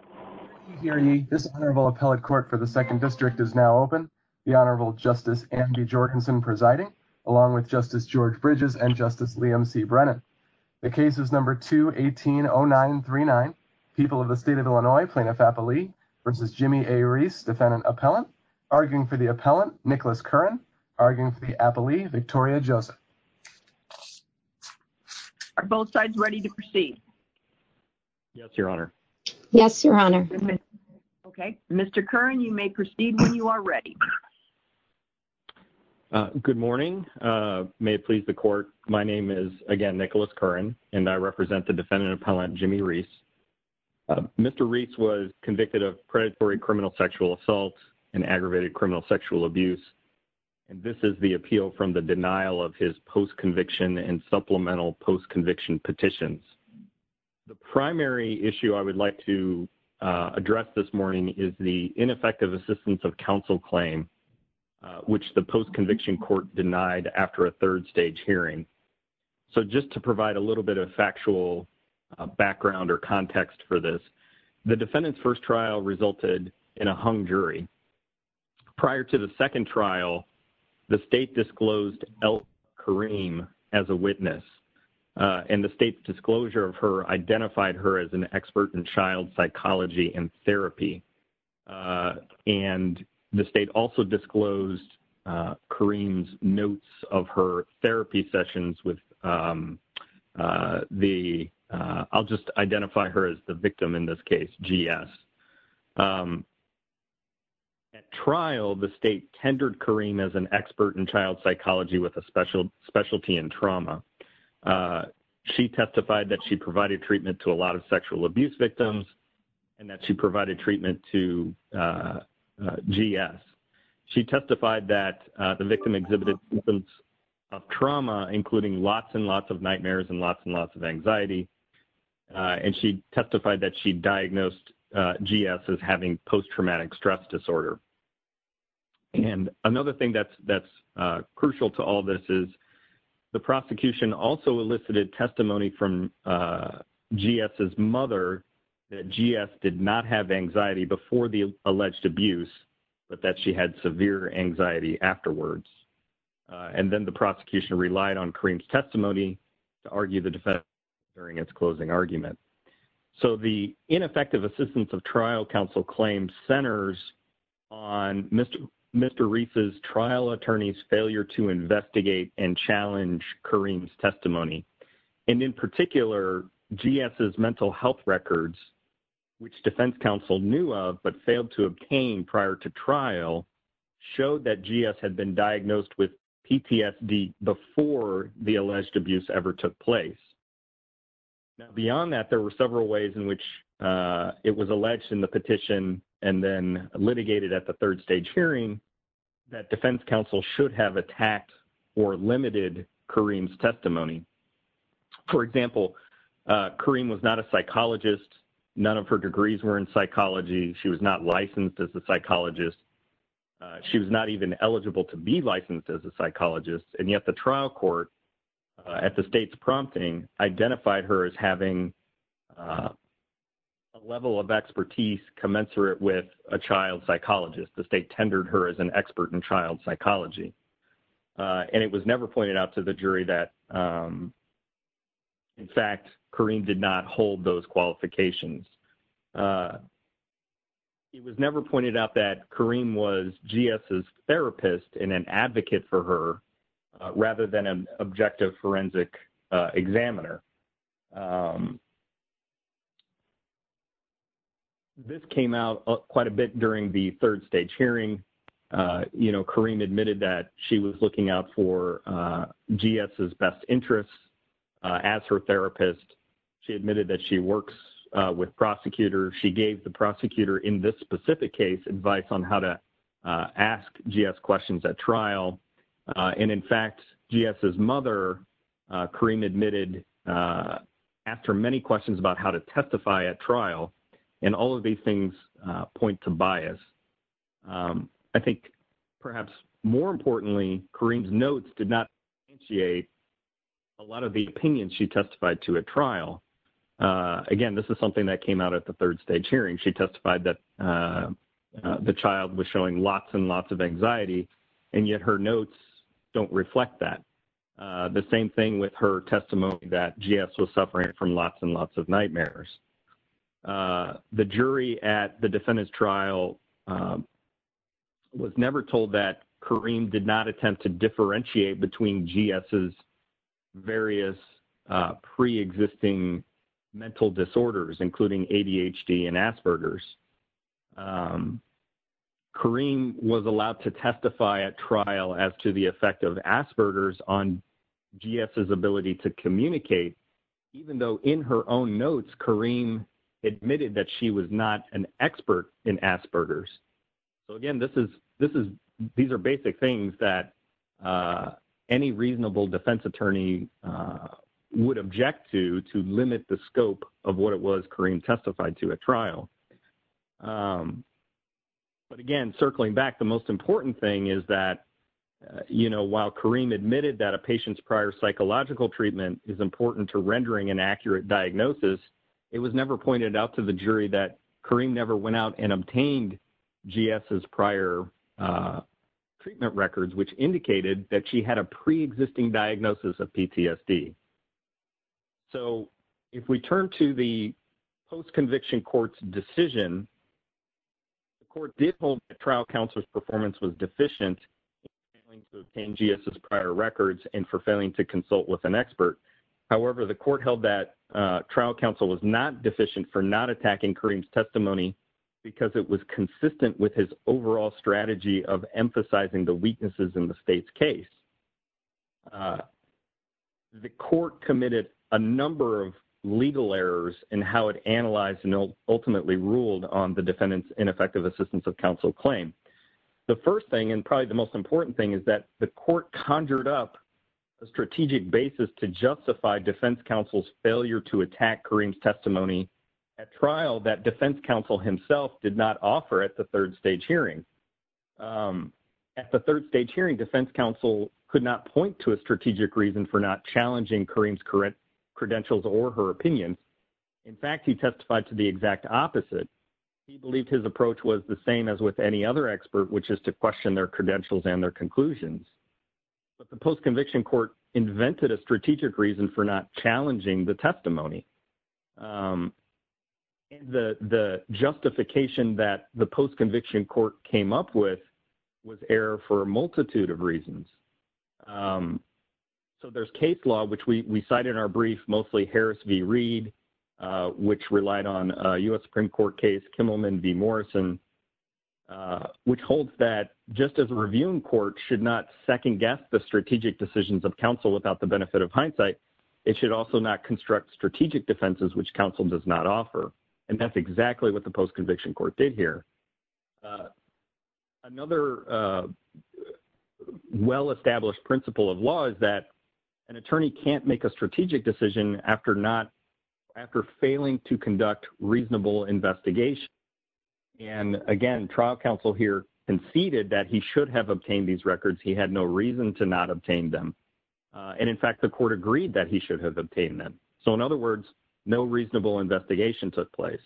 and the second district is now open. The Honorable Justice Andy Jorgensen presiding, along with Justice George Bridges and Justice Liam C Brennan. The case is number 2180939 people of the state of Illinois plaintiff appellee versus Jimmy A Reiss defendant appellant arguing for the appellant, Nicholas Curran, arguing for the appellee, Victoria Joseph. Are both sides ready to proceed? Yes, Your Honor. Yes, Your Honor. Okay. Mr. Curran, you may proceed when you are ready. Good morning. May it please the court. My name is, again, Nicholas Curran, and I represent the defendant appellant, Jimmy Reiss. Mr. Reiss was convicted of predatory criminal sexual assault and aggravated criminal sexual abuse. And this is the appeal from the denial of his post conviction and supplemental post conviction petitions. The primary issue I would like to address this morning is the ineffective assistance of counsel claim, which the post conviction court denied after a third stage hearing. So, just to provide a little bit of factual background or context for this, the defendant's first trial resulted in a hung jury. Prior to the second trial, the state disclosed Elle Kareem as a witness. And the state's disclosure of her identified her as an expert in child psychology and therapy. And the state also disclosed Kareem's notes of her therapy sessions with the, I'll just identify her as the victim in this case, GS. At trial, the state tendered Kareem as an expert in child psychology with a specialty in trauma. She testified that she provided treatment to a lot of sexual abuse victims and that she provided treatment to GS. She testified that the victim exhibited symptoms of trauma, including lots and lots of nightmares and lots and lots of anxiety. And she testified that she diagnosed GS as having post traumatic stress disorder. And another thing that's crucial to all this is the prosecution also elicited testimony from GS's mother that GS did not have anxiety before the alleged abuse, but that she had severe anxiety afterwards. And then the prosecution relied on Kareem's testimony to argue the defense during its closing argument. So the ineffective assistance of trial counsel claims centers on Mr. Reese's trial attorney's failure to investigate and challenge Kareem's testimony. And in particular, GS's mental health records, which defense counsel knew of but failed to obtain prior to trial, showed that GS had been diagnosed with PTSD before the alleged abuse ever took place. Beyond that, there were several ways in which it was alleged in the petition and then litigated at the third stage hearing that defense counsel should have attacked or limited Kareem's testimony. For example, Kareem was not a psychologist. None of her degrees were in psychology. She was not licensed as a psychologist. She was not even eligible to be licensed as a psychologist. And yet the trial court at the state's prompting identified her as having a level of expertise commensurate with a child psychologist. The state tendered her as an expert in child psychology. And it was never pointed out to the jury that, in fact, Kareem did not hold those qualifications. It was never pointed out that Kareem was GS's therapist and an advocate for her rather than an objective forensic examiner. This came out quite a bit during the third stage hearing. Kareem admitted that she was looking out for GS's best interests as her therapist. She admitted that she works with prosecutors. She gave the prosecutor in this specific case advice on how to ask GS questions at trial. And in fact, GS's mother, Kareem admitted, asked her many questions about how to testify at trial. And all of these things point to bias. I think perhaps more importantly, Kareem's notes did not enunciate a lot of the opinions she testified to at trial. Again, this is something that came out at the third stage hearing. She testified that the child was showing lots and lots of anxiety, and yet her notes don't reflect that. The same thing with her testimony that GS was suffering from lots and lots of nightmares. The jury at the defendant's trial was never told that Kareem did not attempt to differentiate between GS's various pre-existing mental disorders, including ADHD and Asperger's. Kareem was allowed to testify at trial as to the effect of Asperger's on GS's ability to communicate, even though in her own notes, Kareem admitted that she was not an expert in Asperger's. So again, these are basic things that any reasonable defense attorney would object to, to limit the scope of what it was Kareem testified to at trial. But again, circling back, the most important thing is that while Kareem admitted that a patient's prior psychological treatment is important to rendering an accurate diagnosis, it was never pointed out to the jury that Kareem never went out and obtained GS's prior treatment records, which indicated that she had a pre-existing diagnosis of PTSD. So if we turn to the post-conviction court's decision, the court did hold that trial counsel's performance was deficient for failing to obtain GS's prior records and for failing to consult with an expert. However, the court held that trial counsel was not deficient for not attacking Kareem's testimony because it was consistent with his overall strategy of emphasizing the weaknesses in the state's case. The court committed a number of legal errors in how it analyzed and ultimately ruled on the defendant's ineffective assistance of counsel claim. The first thing, and probably the most important thing, is that the court conjured up a strategic basis to justify defense counsel's failure to attack Kareem's testimony at trial that defense counsel himself did not offer at the third stage hearing. At the third stage hearing, defense counsel could not point to a strategic reason for not challenging Kareem's credentials or her opinion. In fact, he testified to the exact opposite. He believed his approach was the same as with any other expert, which is to question their credentials and their conclusions. But the post-conviction court invented a strategic reason for not challenging the testimony. And the justification that the post-conviction court came up with was error for a multitude of reasons. So there's case law, which we cite in our brief, mostly Harris v. Reed, which relied on a U.S. Supreme Court case, Kimmelman v. Morrison, which holds that just as a reviewing court should not second-guess the strategic decisions of counsel without the benefit of hindsight, it should also not construct strategic defenses which counsel does not offer. And that's exactly what the post-conviction court did here. Another well-established principle of law is that an attorney can't make a strategic decision after failing to conduct reasonable investigation. And again, trial counsel here conceded that he should have obtained these records. He had no reason to not obtain them. And in fact, the court agreed that he should have obtained them. So in other words, no reasonable investigation took place.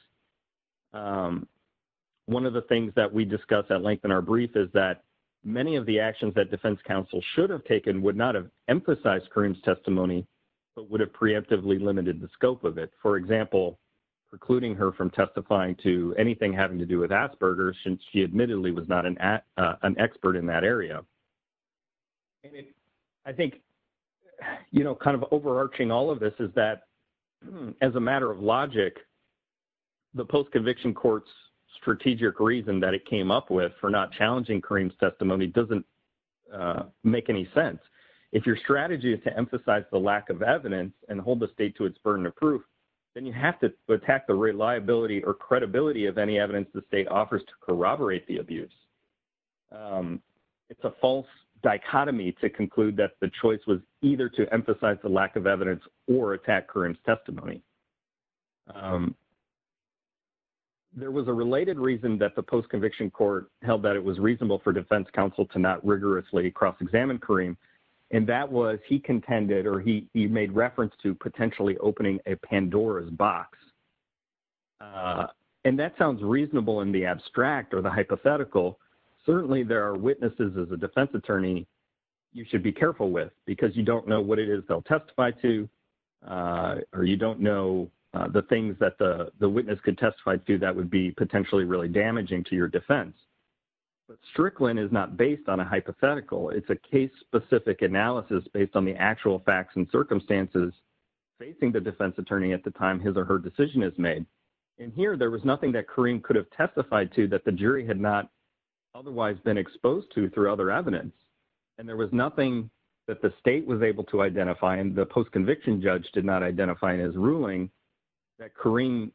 One of the things that we discussed at length in our brief is that many of the actions that defense counsel should have taken would not have emphasized Karim's testimony, but would have preemptively limited the scope of it. For example, precluding her from testifying to anything having to do with Asperger's since she admittedly was not an expert in that area. I think, you know, kind of overarching all of this is that as a matter of logic, the post-conviction court's strategic reason that it came up with for not challenging Karim's testimony doesn't make any sense. If your strategy is to emphasize the lack of evidence and hold the state to its burden of proof, then you have to attack the reliability or credibility of any evidence the state offers to corroborate the abuse. It's a false dichotomy to conclude that the choice was either to emphasize the lack of evidence or attack Karim's testimony. There was a related reason that the post-conviction court held that it was reasonable for defense counsel to not rigorously cross-examine Karim, and that was he contended or he made reference to potentially opening a Pandora's box. And that sounds reasonable in the abstract or the hypothetical. Certainly, there are witnesses as a defense attorney you should be careful with because you don't know what it is they'll testify to, or you don't know the things that the witness could testify to that would be potentially really damaging to your defense. But Strickland is not based on a hypothetical. It's a case-specific analysis based on the actual facts and circumstances facing the defense attorney at the time his or her decision is made. And here, there was nothing that Karim could have testified to that the jury had not otherwise been exposed to through other evidence. And there was nothing that the state was able to identify and the post-conviction judge did not identify in his ruling that Karim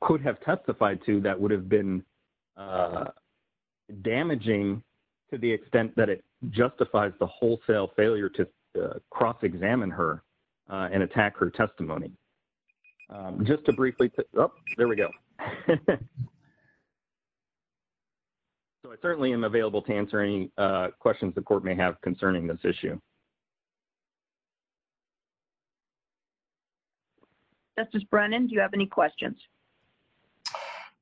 could have testified to that would have been damaging to the extent that it justifies the wholesale failure to cross-examine her and attack her testimony. Just to briefly – oh, there we go. So, I certainly am available to answer any questions the court may have concerning this issue. Justice Brennan, do you have any questions?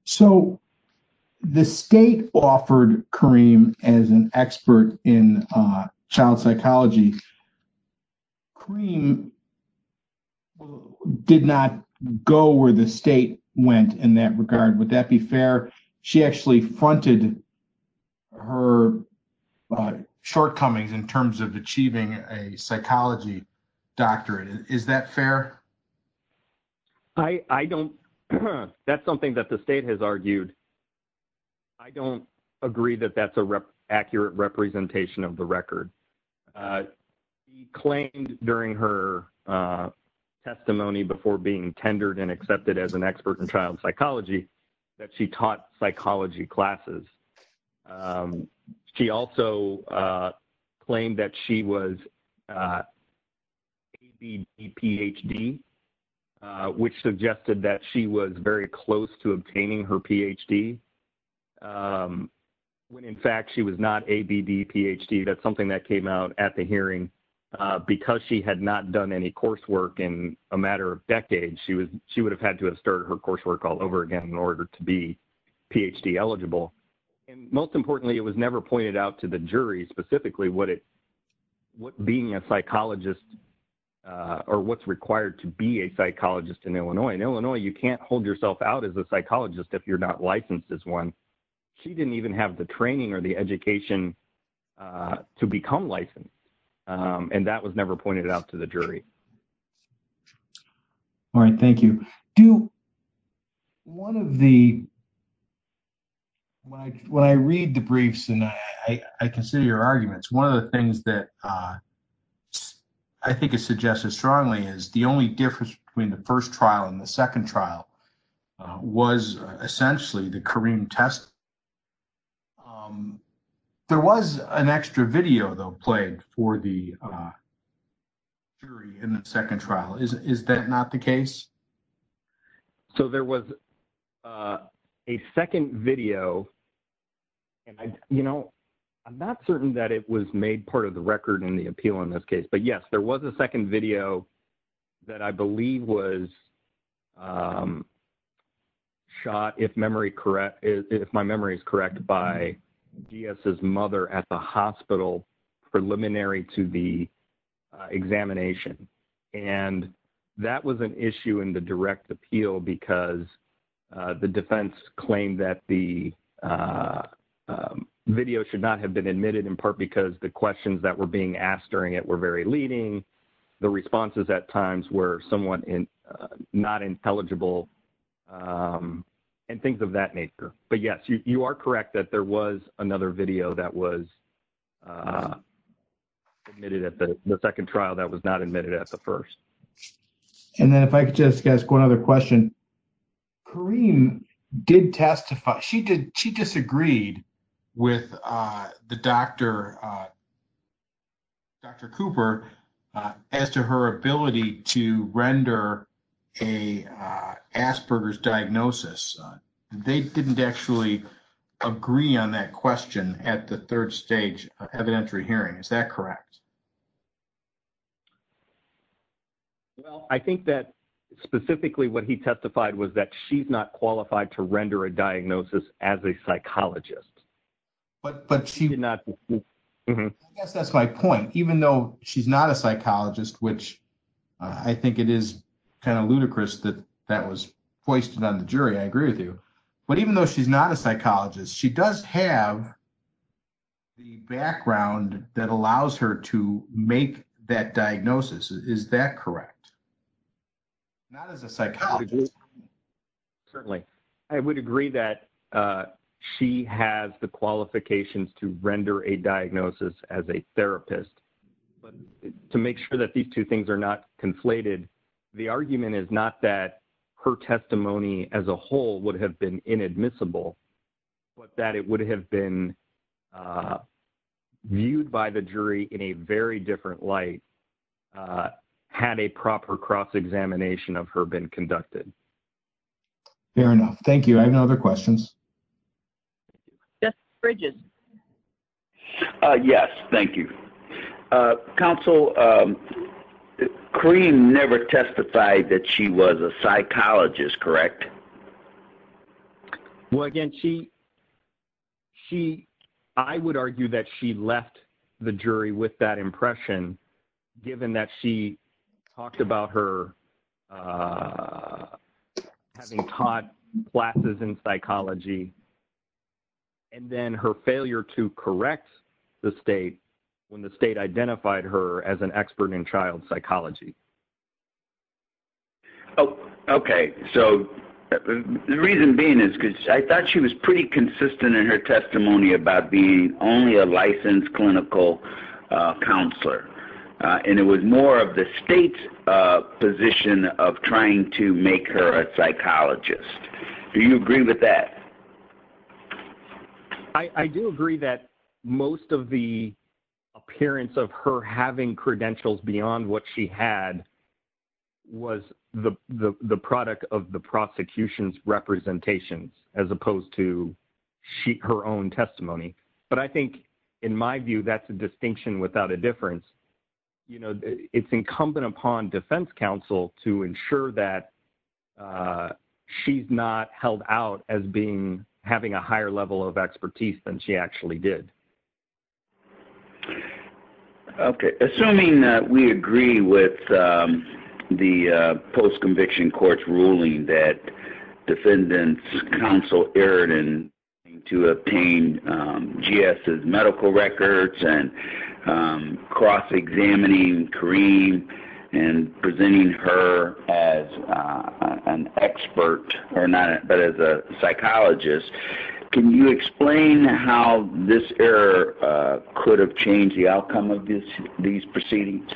So, the state offered Karim as an expert in child psychology. Karim did not go where the state went in that regard. Would that be fair? She actually fronted her shortcomings in terms of achieving a psychology doctorate. Is that fair? I don't – that's something that the state has argued. I don't agree that that's an accurate representation of the record. She claimed during her testimony before being tendered and accepted as an expert in child psychology that she taught psychology classes. She also claimed that she was ABD-PhD, which suggested that she was very close to obtaining her PhD, when in fact she was not ABD-PhD. That's something that came out at the hearing. Because she had not done any coursework in a matter of decades, she would have had to have started her coursework all over again in order to be PhD-eligible. And most importantly, it was never pointed out to the jury specifically what being a psychologist – or what's required to be a psychologist in Illinois. In Illinois, you can't hold yourself out as a psychologist if you're not licensed as one. She didn't even have the training or the education to become licensed, and that was never pointed out to the jury. All right. Thank you. Do – one of the – when I read the briefs and I consider your arguments, one of the things that I think is suggested strongly is the only difference between the first trial and the second trial was essentially the Karim test. There was an extra video, though, played for the jury in the second trial. Is that not the case? So there was a second video. And, you know, I'm not certain that it was made part of the record in the appeal in this case. But, yes, there was a second video that I believe was shot, if memory – if my memory is correct, by G.S.'s mother at the hospital preliminary to the examination. And that was an issue in the direct appeal because the defense claimed that the video should not have been admitted, in part because the questions that were being asked during it were very leading, the responses at times were somewhat not intelligible, and things of that nature. But, yes, you are correct that there was another video that was admitted at the – the second trial that was not admitted at the first. And then if I could just ask one other question. Karim did testify – she did – she disagreed with the doctor, Dr. Cooper, as to her ability to render a Asperger's diagnosis. They didn't actually agree on that question at the third stage of evidentiary hearing. Is that correct? Well, I think that specifically what he testified was that she's not qualified to render a diagnosis as a psychologist. But she did not – I guess that's my point. Even though she's not a psychologist, which I think it is kind of ludicrous that that was hoisted on the jury, I agree with you. But even though she's not a psychologist, she does have the background that allows her to make that diagnosis. Is that correct? Not as a psychologist. Certainly. I would agree that she has the qualifications to render a diagnosis as a therapist. But to make sure that these two things are not conflated, the argument is not that her testimony as a whole would have been inadmissible, but that it would have been viewed by the jury in a very different light had a proper cross-examination of her been conducted. Fair enough. Thank you. I have no other questions. Judge Bridges? Yes, thank you. Counsel, Karim never testified that she was a psychologist, correct? Well, again, she – I would argue that she left the jury with that impression given that she talked about her having taught classes in psychology and then her failure to correct the state when the state identified her as an expert in child psychology. Okay. So the reason being is because I thought she was pretty consistent in her testimony about being only a licensed clinical counselor. And it was more of the state's position of trying to make her a psychologist. Do you agree with that? I do agree that most of the appearance of her having credentials beyond what she had was the product of the prosecution's representation as opposed to her own testimony. But I think, in my view, that's a distinction without a difference. It's incumbent upon defense counsel to ensure that she's not held out as having a higher level of expertise than she actually did. Okay. Assuming that we agree with the post-conviction court's ruling that defendants' counsel erred in attempting to obtain G.S.'s medical records and cross-examining Kareem and presenting her as an expert or not – but as a psychologist, can you explain how this error could have changed the outcome of these proceedings?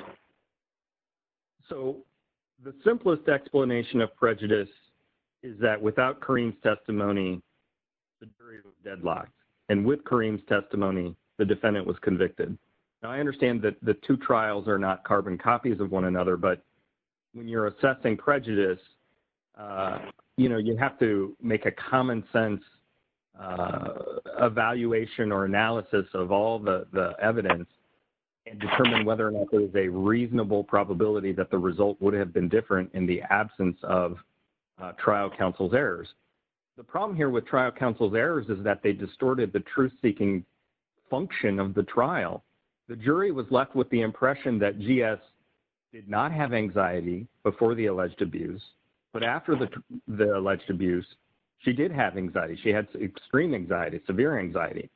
So the simplest explanation of prejudice is that without Kareem's testimony, the jury was deadlocked. And with Kareem's testimony, the defendant was convicted. Now, I understand that the two trials are not carbon copies of one another. But when you're assessing prejudice, you know, you have to make a common-sense evaluation or analysis of all the evidence and determine whether or not there is a reasonable probability that the result would have been different in the absence of trial counsel's errors. The problem here with trial counsel's errors is that they distorted the truth-seeking function of the trial. The jury was left with the impression that G.S. did not have anxiety before the alleged abuse. But after the alleged abuse, she did have anxiety. She had extreme anxiety, severe anxiety.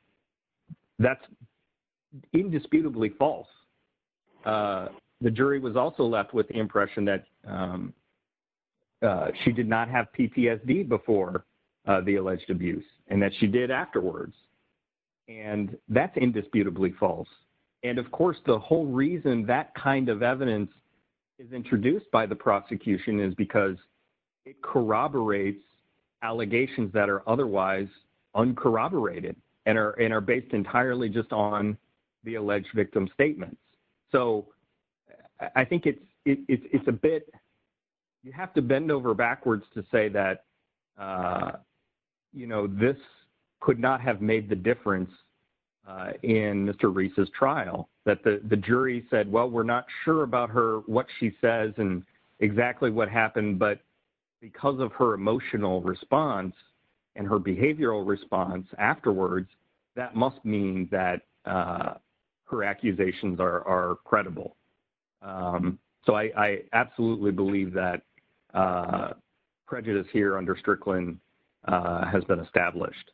That's indisputably false. The jury was also left with the impression that she did not have PTSD before the alleged abuse and that she did afterwards. And that's indisputably false. And, of course, the whole reason that kind of evidence is introduced by the prosecution is because it corroborates allegations that are otherwise uncorroborated and are based entirely just on the alleged victim's statements. So I think it's a bit—you have to bend over backwards to say that, you know, this could not have made the difference in Mr. Reese's trial. That the jury said, well, we're not sure about her, what she says, and exactly what happened. But because of her emotional response and her behavioral response afterwards, that must mean that her accusations are credible. So I absolutely believe that prejudice here under Strickland has been established.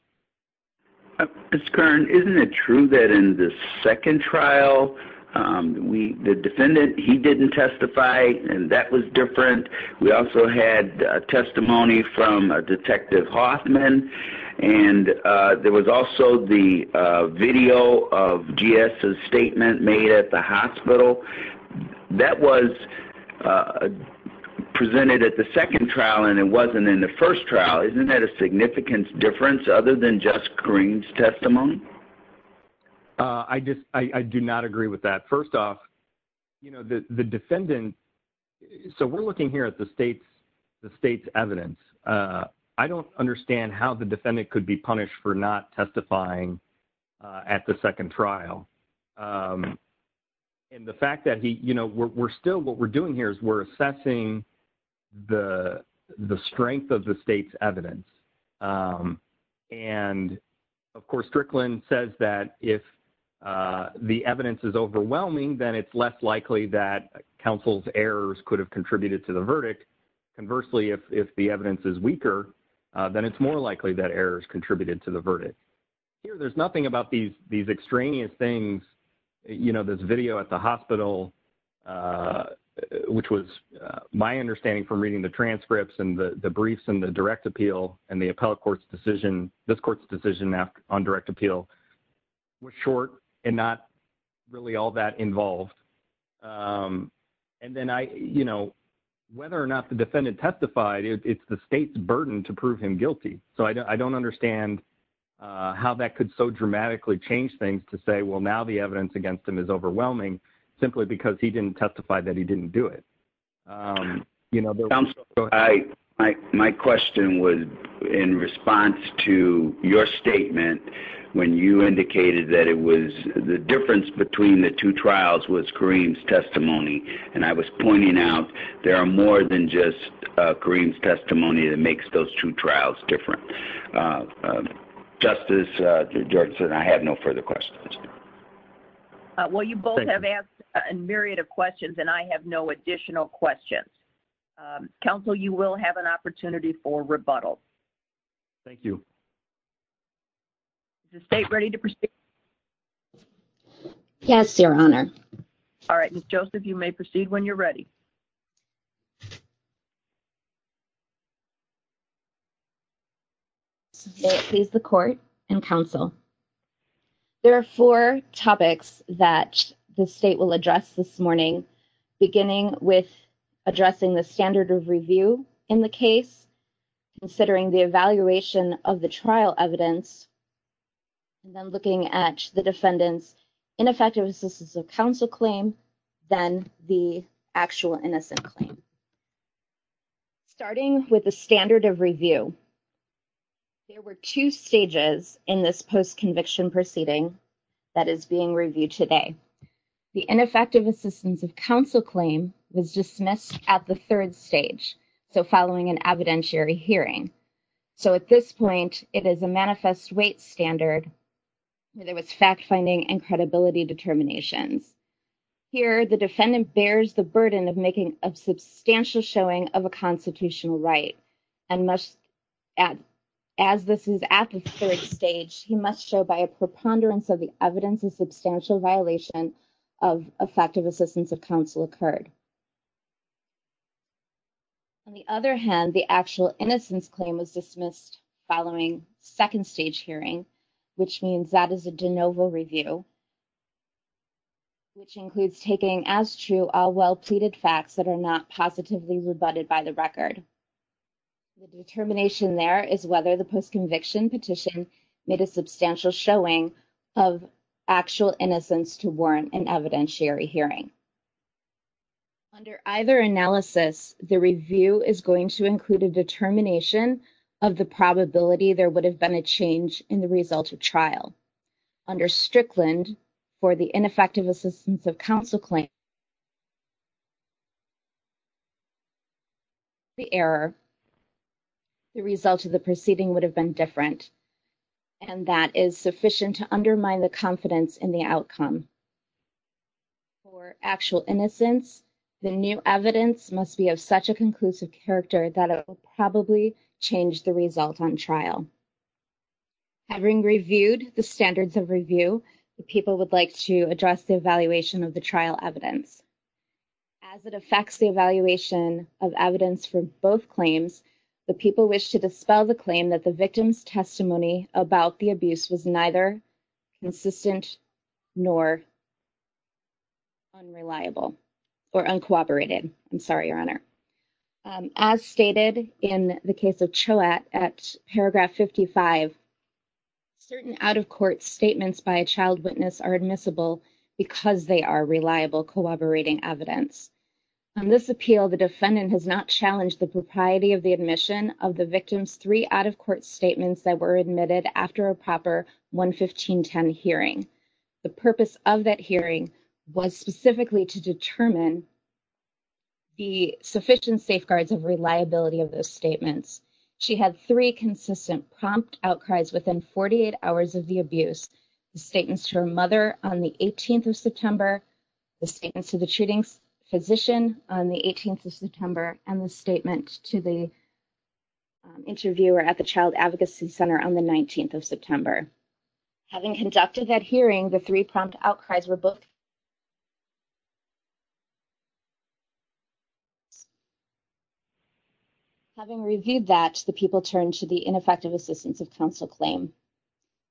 Ms. Kern, isn't it true that in the second trial, the defendant, he didn't testify, and that was different? We also had testimony from Detective Hoffman, and there was also the video of G.S.'s statement made at the hospital. That was presented at the second trial, and it wasn't in the first trial. Isn't that a significant difference other than just Green's testimony? I do not agree with that. First off, you know, the defendant—so we're looking here at the state's evidence. I don't understand how the defendant could be punished for not testifying at the second trial. And the fact that, you know, we're still—what we're doing here is we're assessing the strength of the state's evidence. And, of course, Strickland says that if the evidence is overwhelming, then it's less likely that counsel's errors could have contributed to the verdict. Conversely, if the evidence is weaker, then it's more likely that errors contributed to the verdict. Here, there's nothing about these extraneous things. You know, this video at the hospital, which was my understanding from reading the transcripts and the briefs and the direct appeal, and the appellate court's decision—this court's decision on direct appeal was short and not really all that involved. And then I—you know, whether or not the defendant testified, it's the state's burden to prove him guilty. So I don't understand how that could so dramatically change things to say, well, now the evidence against him is overwhelming, simply because he didn't testify that he didn't do it. My question was in response to your statement when you indicated that it was—the difference between the two trials was Kareem's testimony. And I was pointing out there are more than just Kareem's testimony that makes those two trials different. Justice Jordanson, I have no further questions. Well, you both have asked a myriad of questions, and I have no additional questions. Counsel, you will have an opportunity for rebuttal. Thank you. Is the state ready to proceed? Yes, Your Honor. All right. Ms. Joseph, you may proceed when you're ready. May it please the court and counsel, there are four topics that the state will address this morning, beginning with addressing the standard of review in the case, considering the evaluation of the trial evidence, and then looking at the defendant's ineffective assistance of counsel claim, then the actual innocent claim. Starting with the standard of review, there were two stages in this post-conviction proceeding that is being reviewed today. The ineffective assistance of counsel claim was dismissed at the third stage, so following an evidentiary hearing. So at this point, it is a manifest weight standard. There was fact-finding and credibility determinations. Here, the defendant bears the burden of making a substantial showing of a constitutional right, and as this is at the third stage, he must show by a preponderance of the evidence a substantial violation of effective assistance of counsel occurred. On the other hand, the actual innocence claim was dismissed following second-stage hearing, which means that is a de novo review, which includes taking as true all well-pleaded facts that are not positively rebutted by the record. The determination there is whether the post-conviction petition made a substantial showing of actual innocence to warrant an evidentiary hearing. Under either analysis, the review is going to include a determination of the probability there would have been a change in the result of trial. Under Strickland, for the ineffective assistance of counsel claim, the error, the result of the proceeding would have been different, and that is sufficient to undermine the confidence in the outcome. For actual innocence, the new evidence must be of such a conclusive character that it will probably change the result on trial. Having reviewed the standards of review, the people would like to address the evaluation of the trial evidence. As it affects the evaluation of evidence for both claims, the people wish to dispel the claim that the victim's testimony about the abuse was neither consistent nor unreliable or uncooperated. I'm sorry, Your Honor. As stated in the case of Choate at paragraph 55, certain out-of-court statements by a child witness are admissible because they are reliable, corroborating evidence. On this appeal, the defendant has not challenged the propriety of the admission of the victim's three out-of-court statements that were admitted after a proper 11510 hearing. The purpose of that hearing was specifically to determine the sufficient safeguards of reliability of those statements. She had three consistent prompt outcries within 48 hours of the abuse, the statements to her mother on the 18th of September, the statements to the treating physician on the 18th of September, and the statement to the interviewer at the Child Advocacy Center on the 19th of September. Having conducted that hearing, the three prompt outcries were both consistent and reliable. Having reviewed that, the people turned to the ineffective assistance of counsel claim.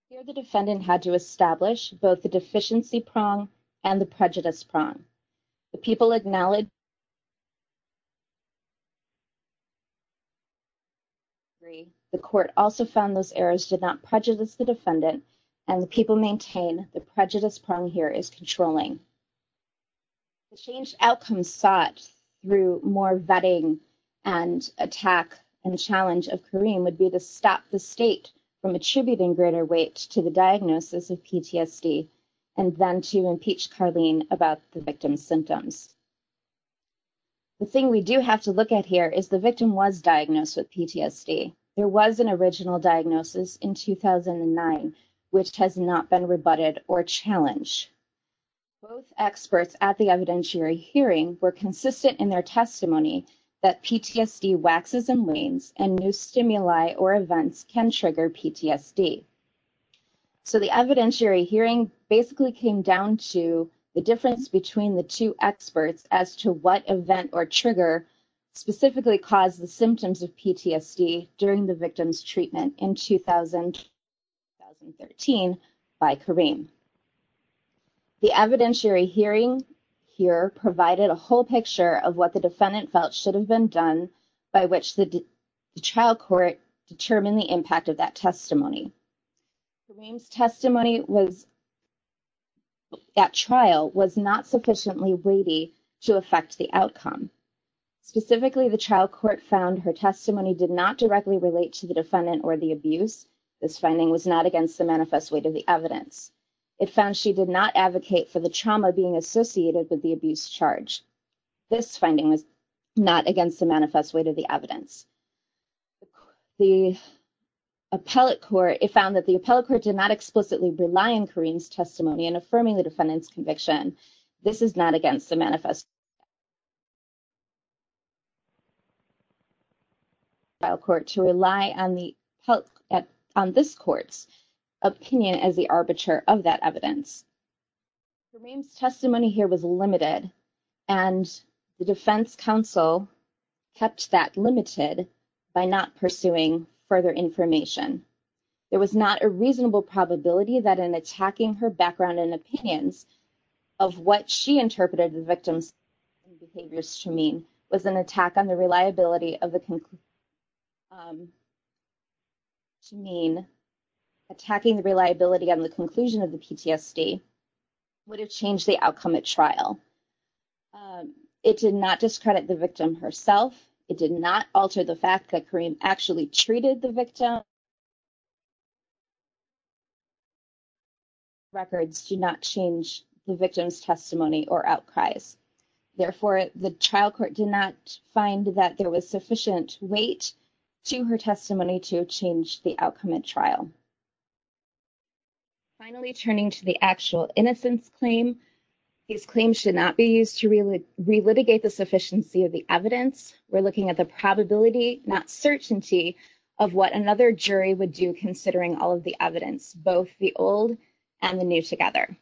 Here, the defendant had to establish both the deficiency prong and the prejudice prong. The people acknowledge that the court also found those errors did not prejudice the defendant, and the people maintain the prejudice prong here is controlling. The change outcome sought through more vetting and attack and challenge of Karim would be to stop the state from attributing greater weight to the diagnosis of PTSD and then to impeach Karim about the victim's symptoms. The thing we do have to look at here is the victim was diagnosed with PTSD. There was an original diagnosis in 2009, which has not been rebutted or challenged. Both experts at the evidentiary hearing were consistent in their testimony that PTSD waxes and wanes and new stimuli or events can trigger PTSD. The evidentiary hearing basically came down to the difference between the two experts as to what event or trigger specifically caused the symptoms of PTSD during the victim's treatment in 2013 by Karim. The evidentiary hearing here provided a whole picture of what the defendant felt should have been done by which the trial court determined the impact of that testimony. Karim's testimony at trial was not sufficiently weighty to affect the outcome. Specifically, the trial court found her testimony did not directly relate to the defendant or the abuse. This finding was not against the manifest weight of the evidence. It found she did not advocate for the trauma being associated with the abuse charge. This finding was not against the manifest weight of the evidence. The appellate court, it found that the appellate court did not explicitly rely on Karim's testimony in affirming the defendant's conviction. This is not against the manifest weight of the evidence. The trial court to rely on this court's opinion as the arbiter of that evidence. Karim's testimony here was limited, and the defense counsel kept that limited by not pursuing further information. There was not a reasonable probability that in attacking her background and opinions of what she interpreted the victim's behaviors to mean was an attack on the reliability of the conclusion of the PTSD would have changed the outcome at trial. It did not discredit the victim herself. It did not alter the fact that Karim actually treated the victim. Records do not change the victim's testimony or outcries. Therefore, the trial court did not find that there was sufficient weight to her testimony to change the outcome at trial. Finally, turning to the actual innocence claim, these claims should not be used to relitigate the sufficiency of the evidence. We're looking at the probability, not certainty, of what another jury would do considering all of the evidence, both the old and the new together.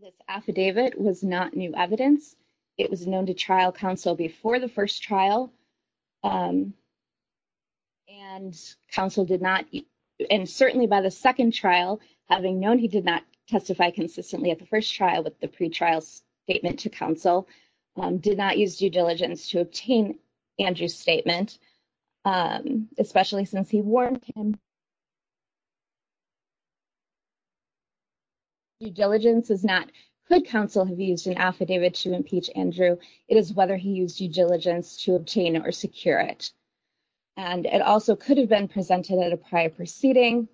This affidavit was not new evidence. It was known to trial counsel before the first trial, and counsel did not, and certainly by the second trial, having known he did not testify consistently at the first trial with the pretrial statement to counsel, did not use due diligence to obtain Andrew's statement, especially since he warned him. Due diligence is not, could counsel have used an affidavit to impeach Andrew, it is whether he used due diligence to obtain or secure it. And it also could have been presented at a prior proceeding,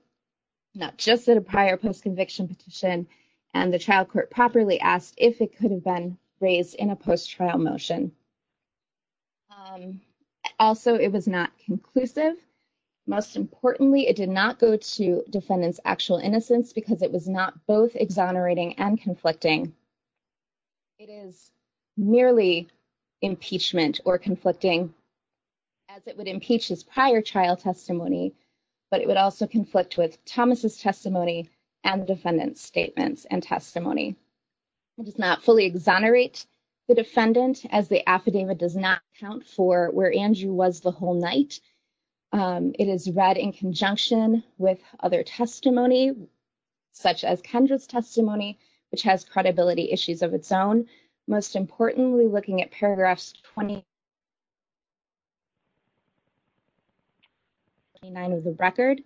not just at a prior post-conviction petition, and the trial court properly asked if it could have been raised in a post-trial motion. Also, it was not conclusive. Most importantly, it did not go to defendant's actual innocence because it was not both exonerating and conflicting. It is merely impeachment or conflicting, as it would impeach his prior trial testimony, but it would also conflict with Thomas' testimony and the defendant's statements and testimony. It does not fully exonerate the defendant, as the affidavit does not count for where Andrew was the whole night. It is read in conjunction with other testimony, such as Kendra's testimony, which has credibility issues of its own. Most importantly, looking at paragraphs 29 of the record,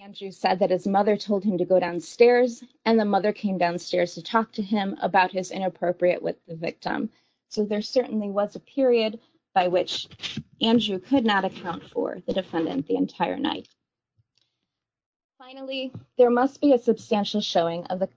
Andrew said that his mother told him to go downstairs, and the mother came downstairs to talk to him about his inappropriate with the victim. So there certainly was a period by which Andrew could not account for the defendant the entire night. Finally, there must be a substantial showing of the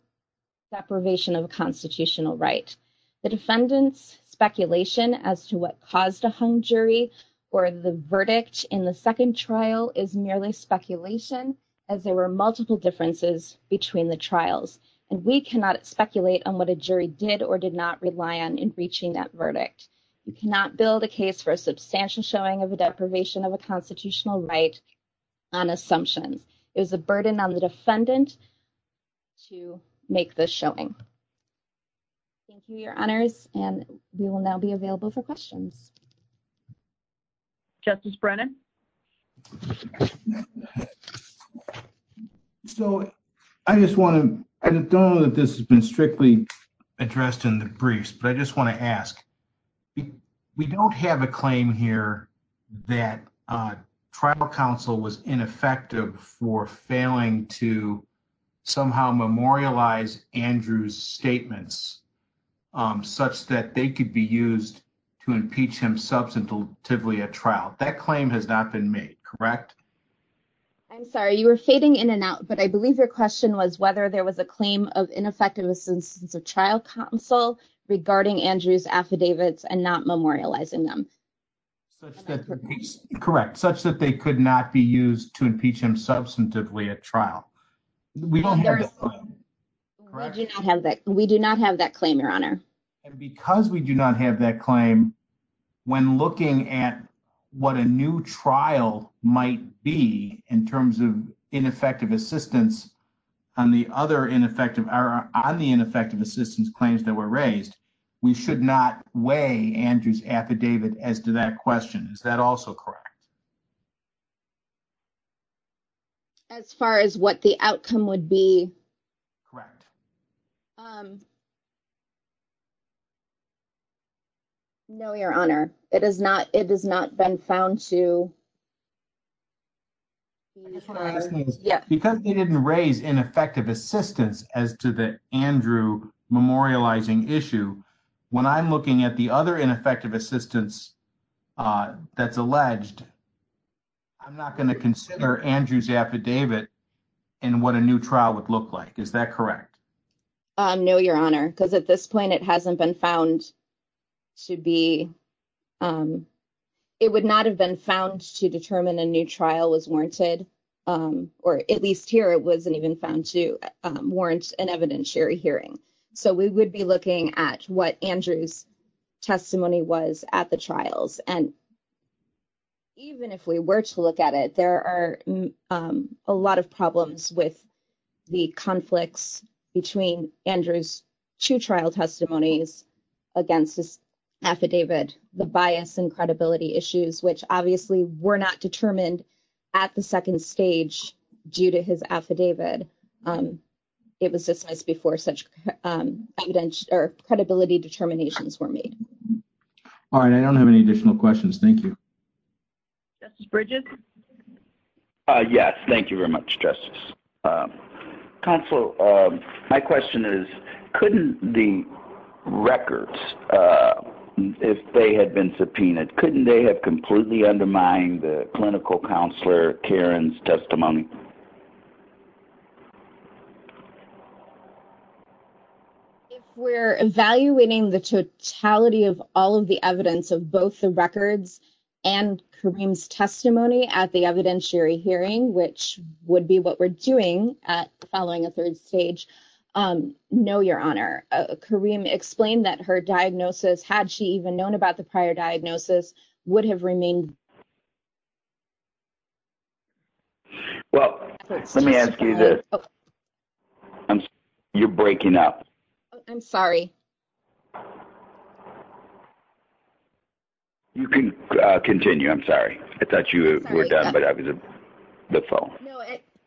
deprivation of a constitutional right. The defendant's speculation as to what caused a hung jury or the verdict in the second trial is merely speculation, as there were multiple differences between the trials, and we cannot speculate on what a jury did or did not rely on in reaching that verdict. We cannot build a case for a substantial showing of a deprivation of a constitutional right on assumptions. It is a burden on the defendant to make this showing. Thank you, your honors, and we will now be available for questions. Justice Brennan. So, I just want to, I don't know that this has been strictly addressed in the briefs, but I just want to ask. We don't have a claim here that trial counsel was ineffective for failing to somehow memorialize Andrew's statements, such that they could be used to impeach him substantively at trial. That claim has not been made, correct? I'm sorry, you were fading in and out, but I believe your question was whether there was a claim of ineffective assistance of trial counsel regarding Andrew's affidavits and not memorializing them. Correct, such that they could not be used to impeach him substantively at trial. We do not have that claim, your honor. And because we do not have that claim, when looking at what a new trial might be in terms of ineffective assistance on the other ineffective, on the ineffective assistance claims that were raised, we should not weigh Andrew's affidavit as to that question. Is that also correct? As far as what the outcome would be. Correct. No, your honor, it is not. It has not been found to. Yeah, because he didn't raise ineffective assistance as to the Andrew memorializing issue. When I'm looking at the other ineffective assistance, that's alleged. I'm not going to consider Andrew's affidavit and what a new trial would look like. Is that correct? No, your honor, because at this point, it hasn't been found to be. It would not have been found to determine a new trial was warranted, or at least here, it wasn't even found to warrant an evidentiary hearing. So we would be looking at what Andrew's testimony was at the trials. And even if we were to look at it, there are a lot of problems with the conflicts between Andrew's two trial testimonies against this affidavit, the bias and credibility issues, which obviously were not determined at the second stage due to his affidavit. It was just before such credibility determinations were made. All right. I don't have any additional questions. Thank you. Bridges. Yes, thank you very much. Justice. Counsel, my question is, couldn't the records, if they had been subpoenaed, couldn't they have completely undermined the clinical counselor Karen's testimony? If we're evaluating the totality of all of the evidence of both the records and Karim's testimony at the evidentiary hearing, which would be what we're doing at following a third stage. No, your honor, Karim explained that her diagnosis, had she even known about the prior diagnosis, would have remained. Well, let me ask you this. You're breaking up. I'm sorry. You can continue. I'm sorry. I thought you were done, but I was the phone.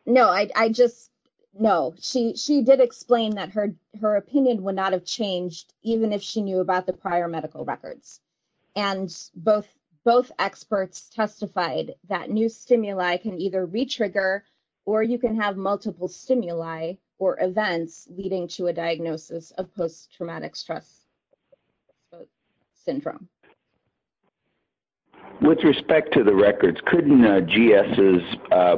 No, I just know she did explain that her opinion would not have changed even if she knew about the prior medical records. And both experts testified that new stimuli can either re-trigger or you can have multiple stimuli or events leading to a diagnosis of post-traumatic stress syndrome. With respect to the records, couldn't GS's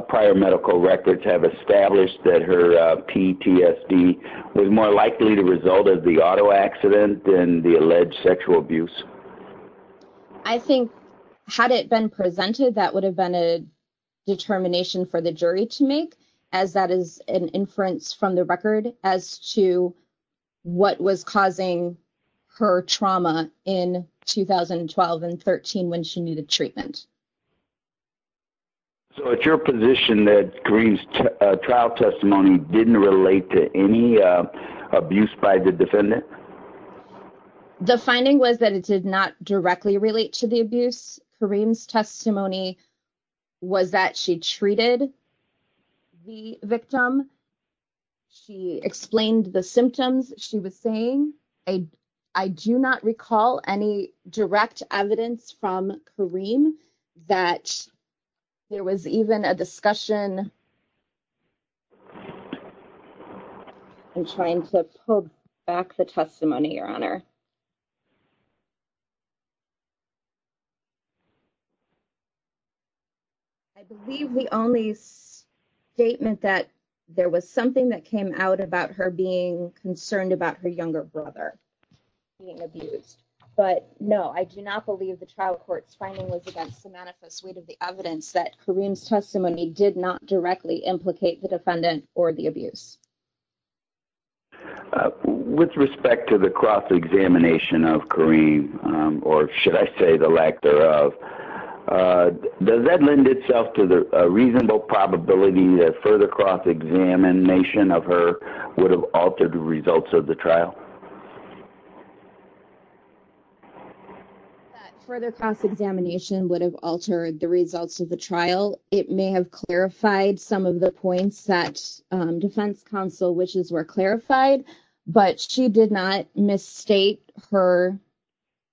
prior medical records have established that her PTSD was more likely to result as the auto accident than the alleged sexual abuse? I think had it been presented, that would have been a determination for the jury to make as that is an inference from the record as to what was causing her trauma in 2012 and 13 when she needed treatment. So it's your position that Karim's trial testimony didn't relate to any abuse by the defendant? The finding was that it did not directly relate to the abuse. Karim's testimony was that she treated the victim. She explained the symptoms she was saying. I do not recall any direct evidence from Karim that there was even a discussion. I'm trying to pull back the testimony, Your Honor. I believe the only statement that there was something that came out about her being concerned about her younger brother being abused. But no, I do not believe the trial court's finding was against the manifest suite of the evidence that Karim's testimony did not directly implicate the defendant or the abuse. With respect to the cross-examination of Karim, or should I say the lack thereof, does that lend itself to the reasonable probability that further cross-examination of her would have altered the results of the trial? That further cross-examination would have altered the results of the trial. It may have clarified some of the points that defense counsel wishes were clarified, but she did not misstate her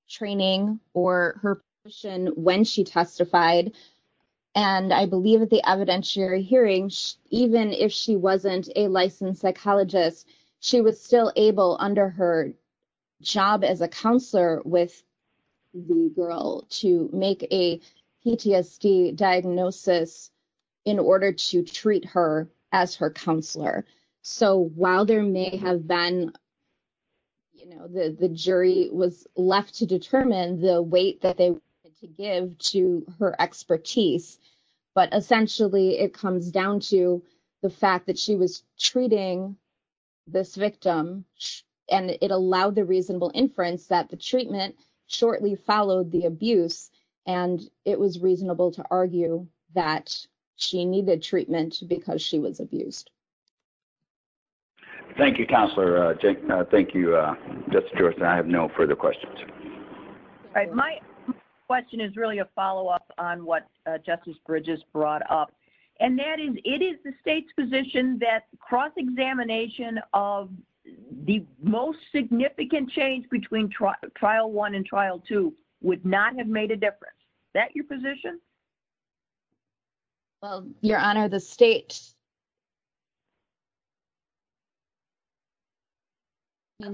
training or her position when she testified. I believe at the evidentiary hearing, even if she wasn't a licensed psychologist, she was still able under her job as a counselor with the girl to make a PTSD diagnosis in order to treat her as her counselor. So while there may have been, you know, the jury was left to determine the weight that they wanted to give to her expertise, but essentially it comes down to the fact that she was treating this victim and it allowed the reasonable inference that the treatment shortly followed the abuse and it was reasonable to argue that she needed treatment because she was abused. Thank you, Counselor. Thank you, Justice George. I have no further questions. All right. My question is really a follow-up on what Justice Bridges brought up, and that is, it is the state's position that cross-examination of the most significant change between trial one and trial two would not have made a difference. Is that your position? Well, Your Honor, the state…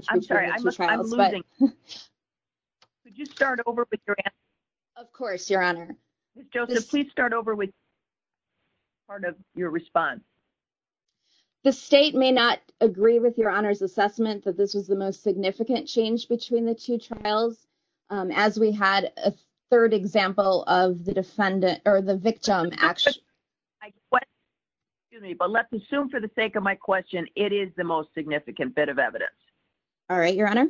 I'm sorry. I'm losing. Could you start over with your answer? Of course, Your Honor. Ms. Joseph, please start over with part of your response. The state may not agree with Your Honor's assessment that this was the most significant change between the two trials, as we had a third example of the victim… Excuse me, but let's assume for the sake of my question, it is the most significant bit of evidence. All right, Your Honor.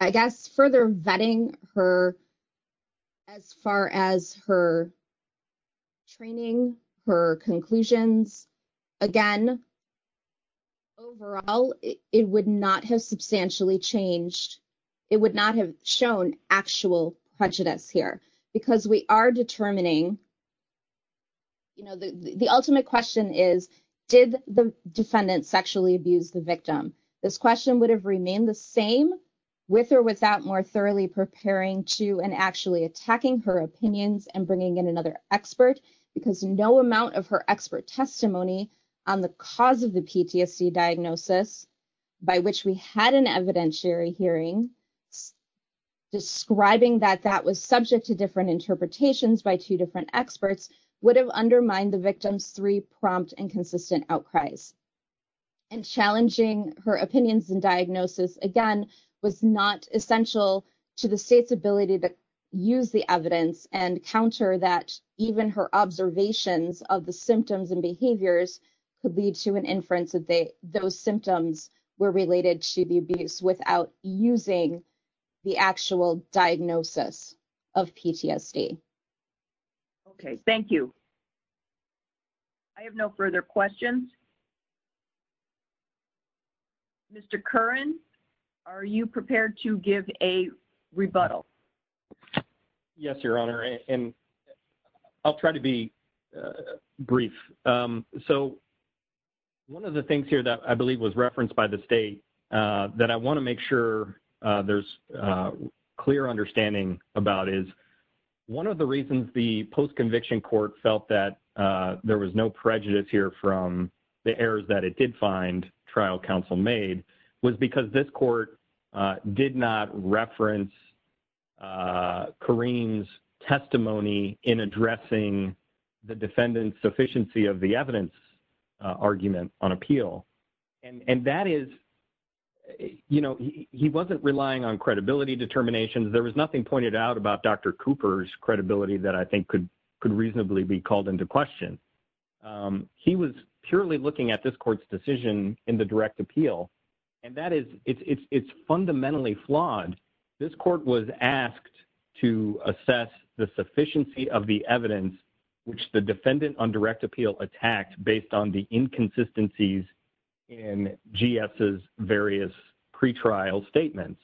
I guess further vetting her as far as her training, her conclusions, again, overall, it would not have substantially changed. It would not have shown actual prejudice here because we are determining… The ultimate question is, did the defendant sexually abuse the victim? This question would have remained the same with or without more thoroughly preparing to and actually attacking her opinions and bringing in another expert because no amount of her expert testimony on the cause of the PTSD diagnosis, by which we had an evidentiary hearing, describing that that was subject to different interpretations by two different experts, would have undermined the victim's three prompt and consistent outcries. And challenging her opinions and diagnosis, again, was not essential to the state's ability to use the evidence and counter that even her observations of the symptoms and behaviors could lead to an inference that those symptoms were related to the abuse without using the actual diagnosis of PTSD. Okay, thank you. I have no further questions. Mr. Curran, are you prepared to give a rebuttal? Yes, Your Honor, and I'll try to be brief. So, one of the things here that I believe was referenced by the state that I want to make sure there's clear understanding about is one of the reasons the post-conviction court felt that there was no prejudice here from the errors that it did find trial counsel made was because this court did not reference Kareem's testimony in addressing the defendant's sufficiency of the evidence argument on appeal. And that is, you know, he wasn't relying on credibility determinations. There was nothing pointed out about Dr. Cooper's credibility that I think could reasonably be called into question. He was purely looking at this court's decision in the direct appeal, and that is, it's fundamentally flawed. This court was asked to assess the sufficiency of the evidence which the defendant on direct appeal attacked based on the inconsistencies in GS's various pretrial statements.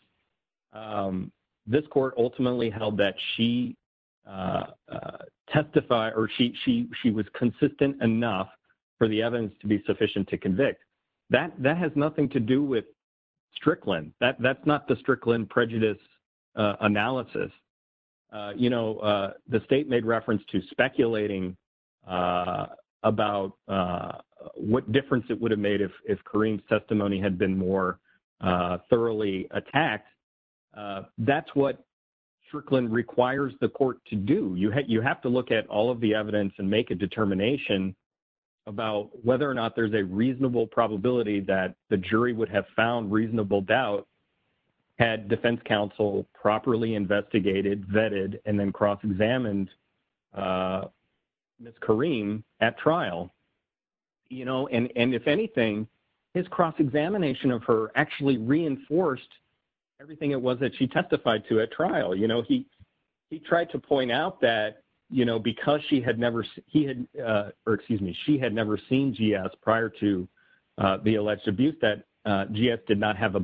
This court ultimately held that she testified or she was consistent enough for the evidence to be sufficient to convict. That has nothing to do with Strickland. That's not the Strickland prejudice analysis. You know, the state made reference to speculating about what difference it would have made if Kareem's testimony had been more thoroughly attacked. That's what Strickland requires the court to do. You have to look at all of the evidence and make a determination about whether or not there's a reasonable probability that the jury would have found reasonable doubt had defense counsel properly investigated, vetted, and then cross-examined Ms. Kareem at trial. You know, and if anything, his cross-examination of her actually reinforced everything it was that she testified to at trial. You know, he tried to point out that, you know, because she had never seen GS prior to the alleged abuse, that Kareem did not have a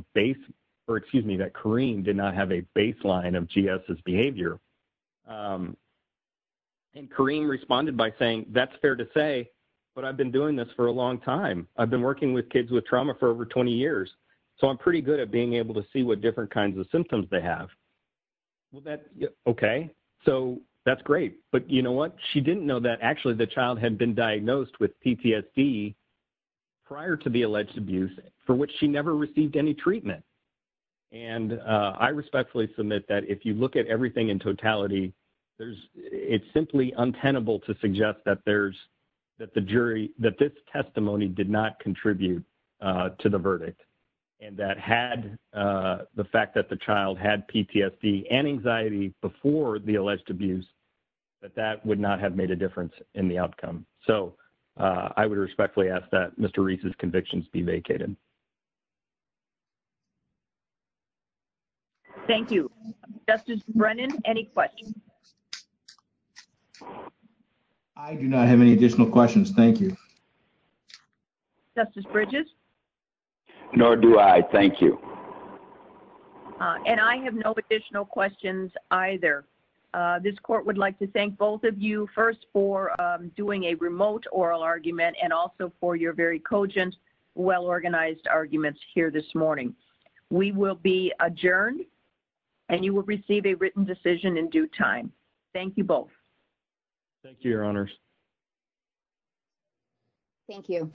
baseline of GS's behavior. And Kareem responded by saying, that's fair to say, but I've been doing this for a long time. I've been working with kids with trauma for over 20 years, so I'm pretty good at being able to see what different kinds of symptoms they have. Okay, so that's great. But you know what? She didn't know that actually the child had been diagnosed with PTSD prior to the alleged abuse, for which she never received any treatment. And I respectfully submit that if you look at everything in totality, it's simply untenable to suggest that this testimony did not contribute to the verdict. And that had the fact that the child had PTSD and anxiety before the alleged abuse, that that would not have made a difference in the outcome. So, I would respectfully ask that Mr. Reese's convictions be vacated. Thank you. Justice Brennan, any questions? I do not have any additional questions. Thank you. Justice Bridges? Nor do I. Thank you. And I have no additional questions either. This court would like to thank both of you first for doing a remote oral argument and also for your very cogent, well-organized arguments here this morning. We will be adjourned and you will receive a written decision in due time. Thank you both. Thank you, Your Honors. Thank you.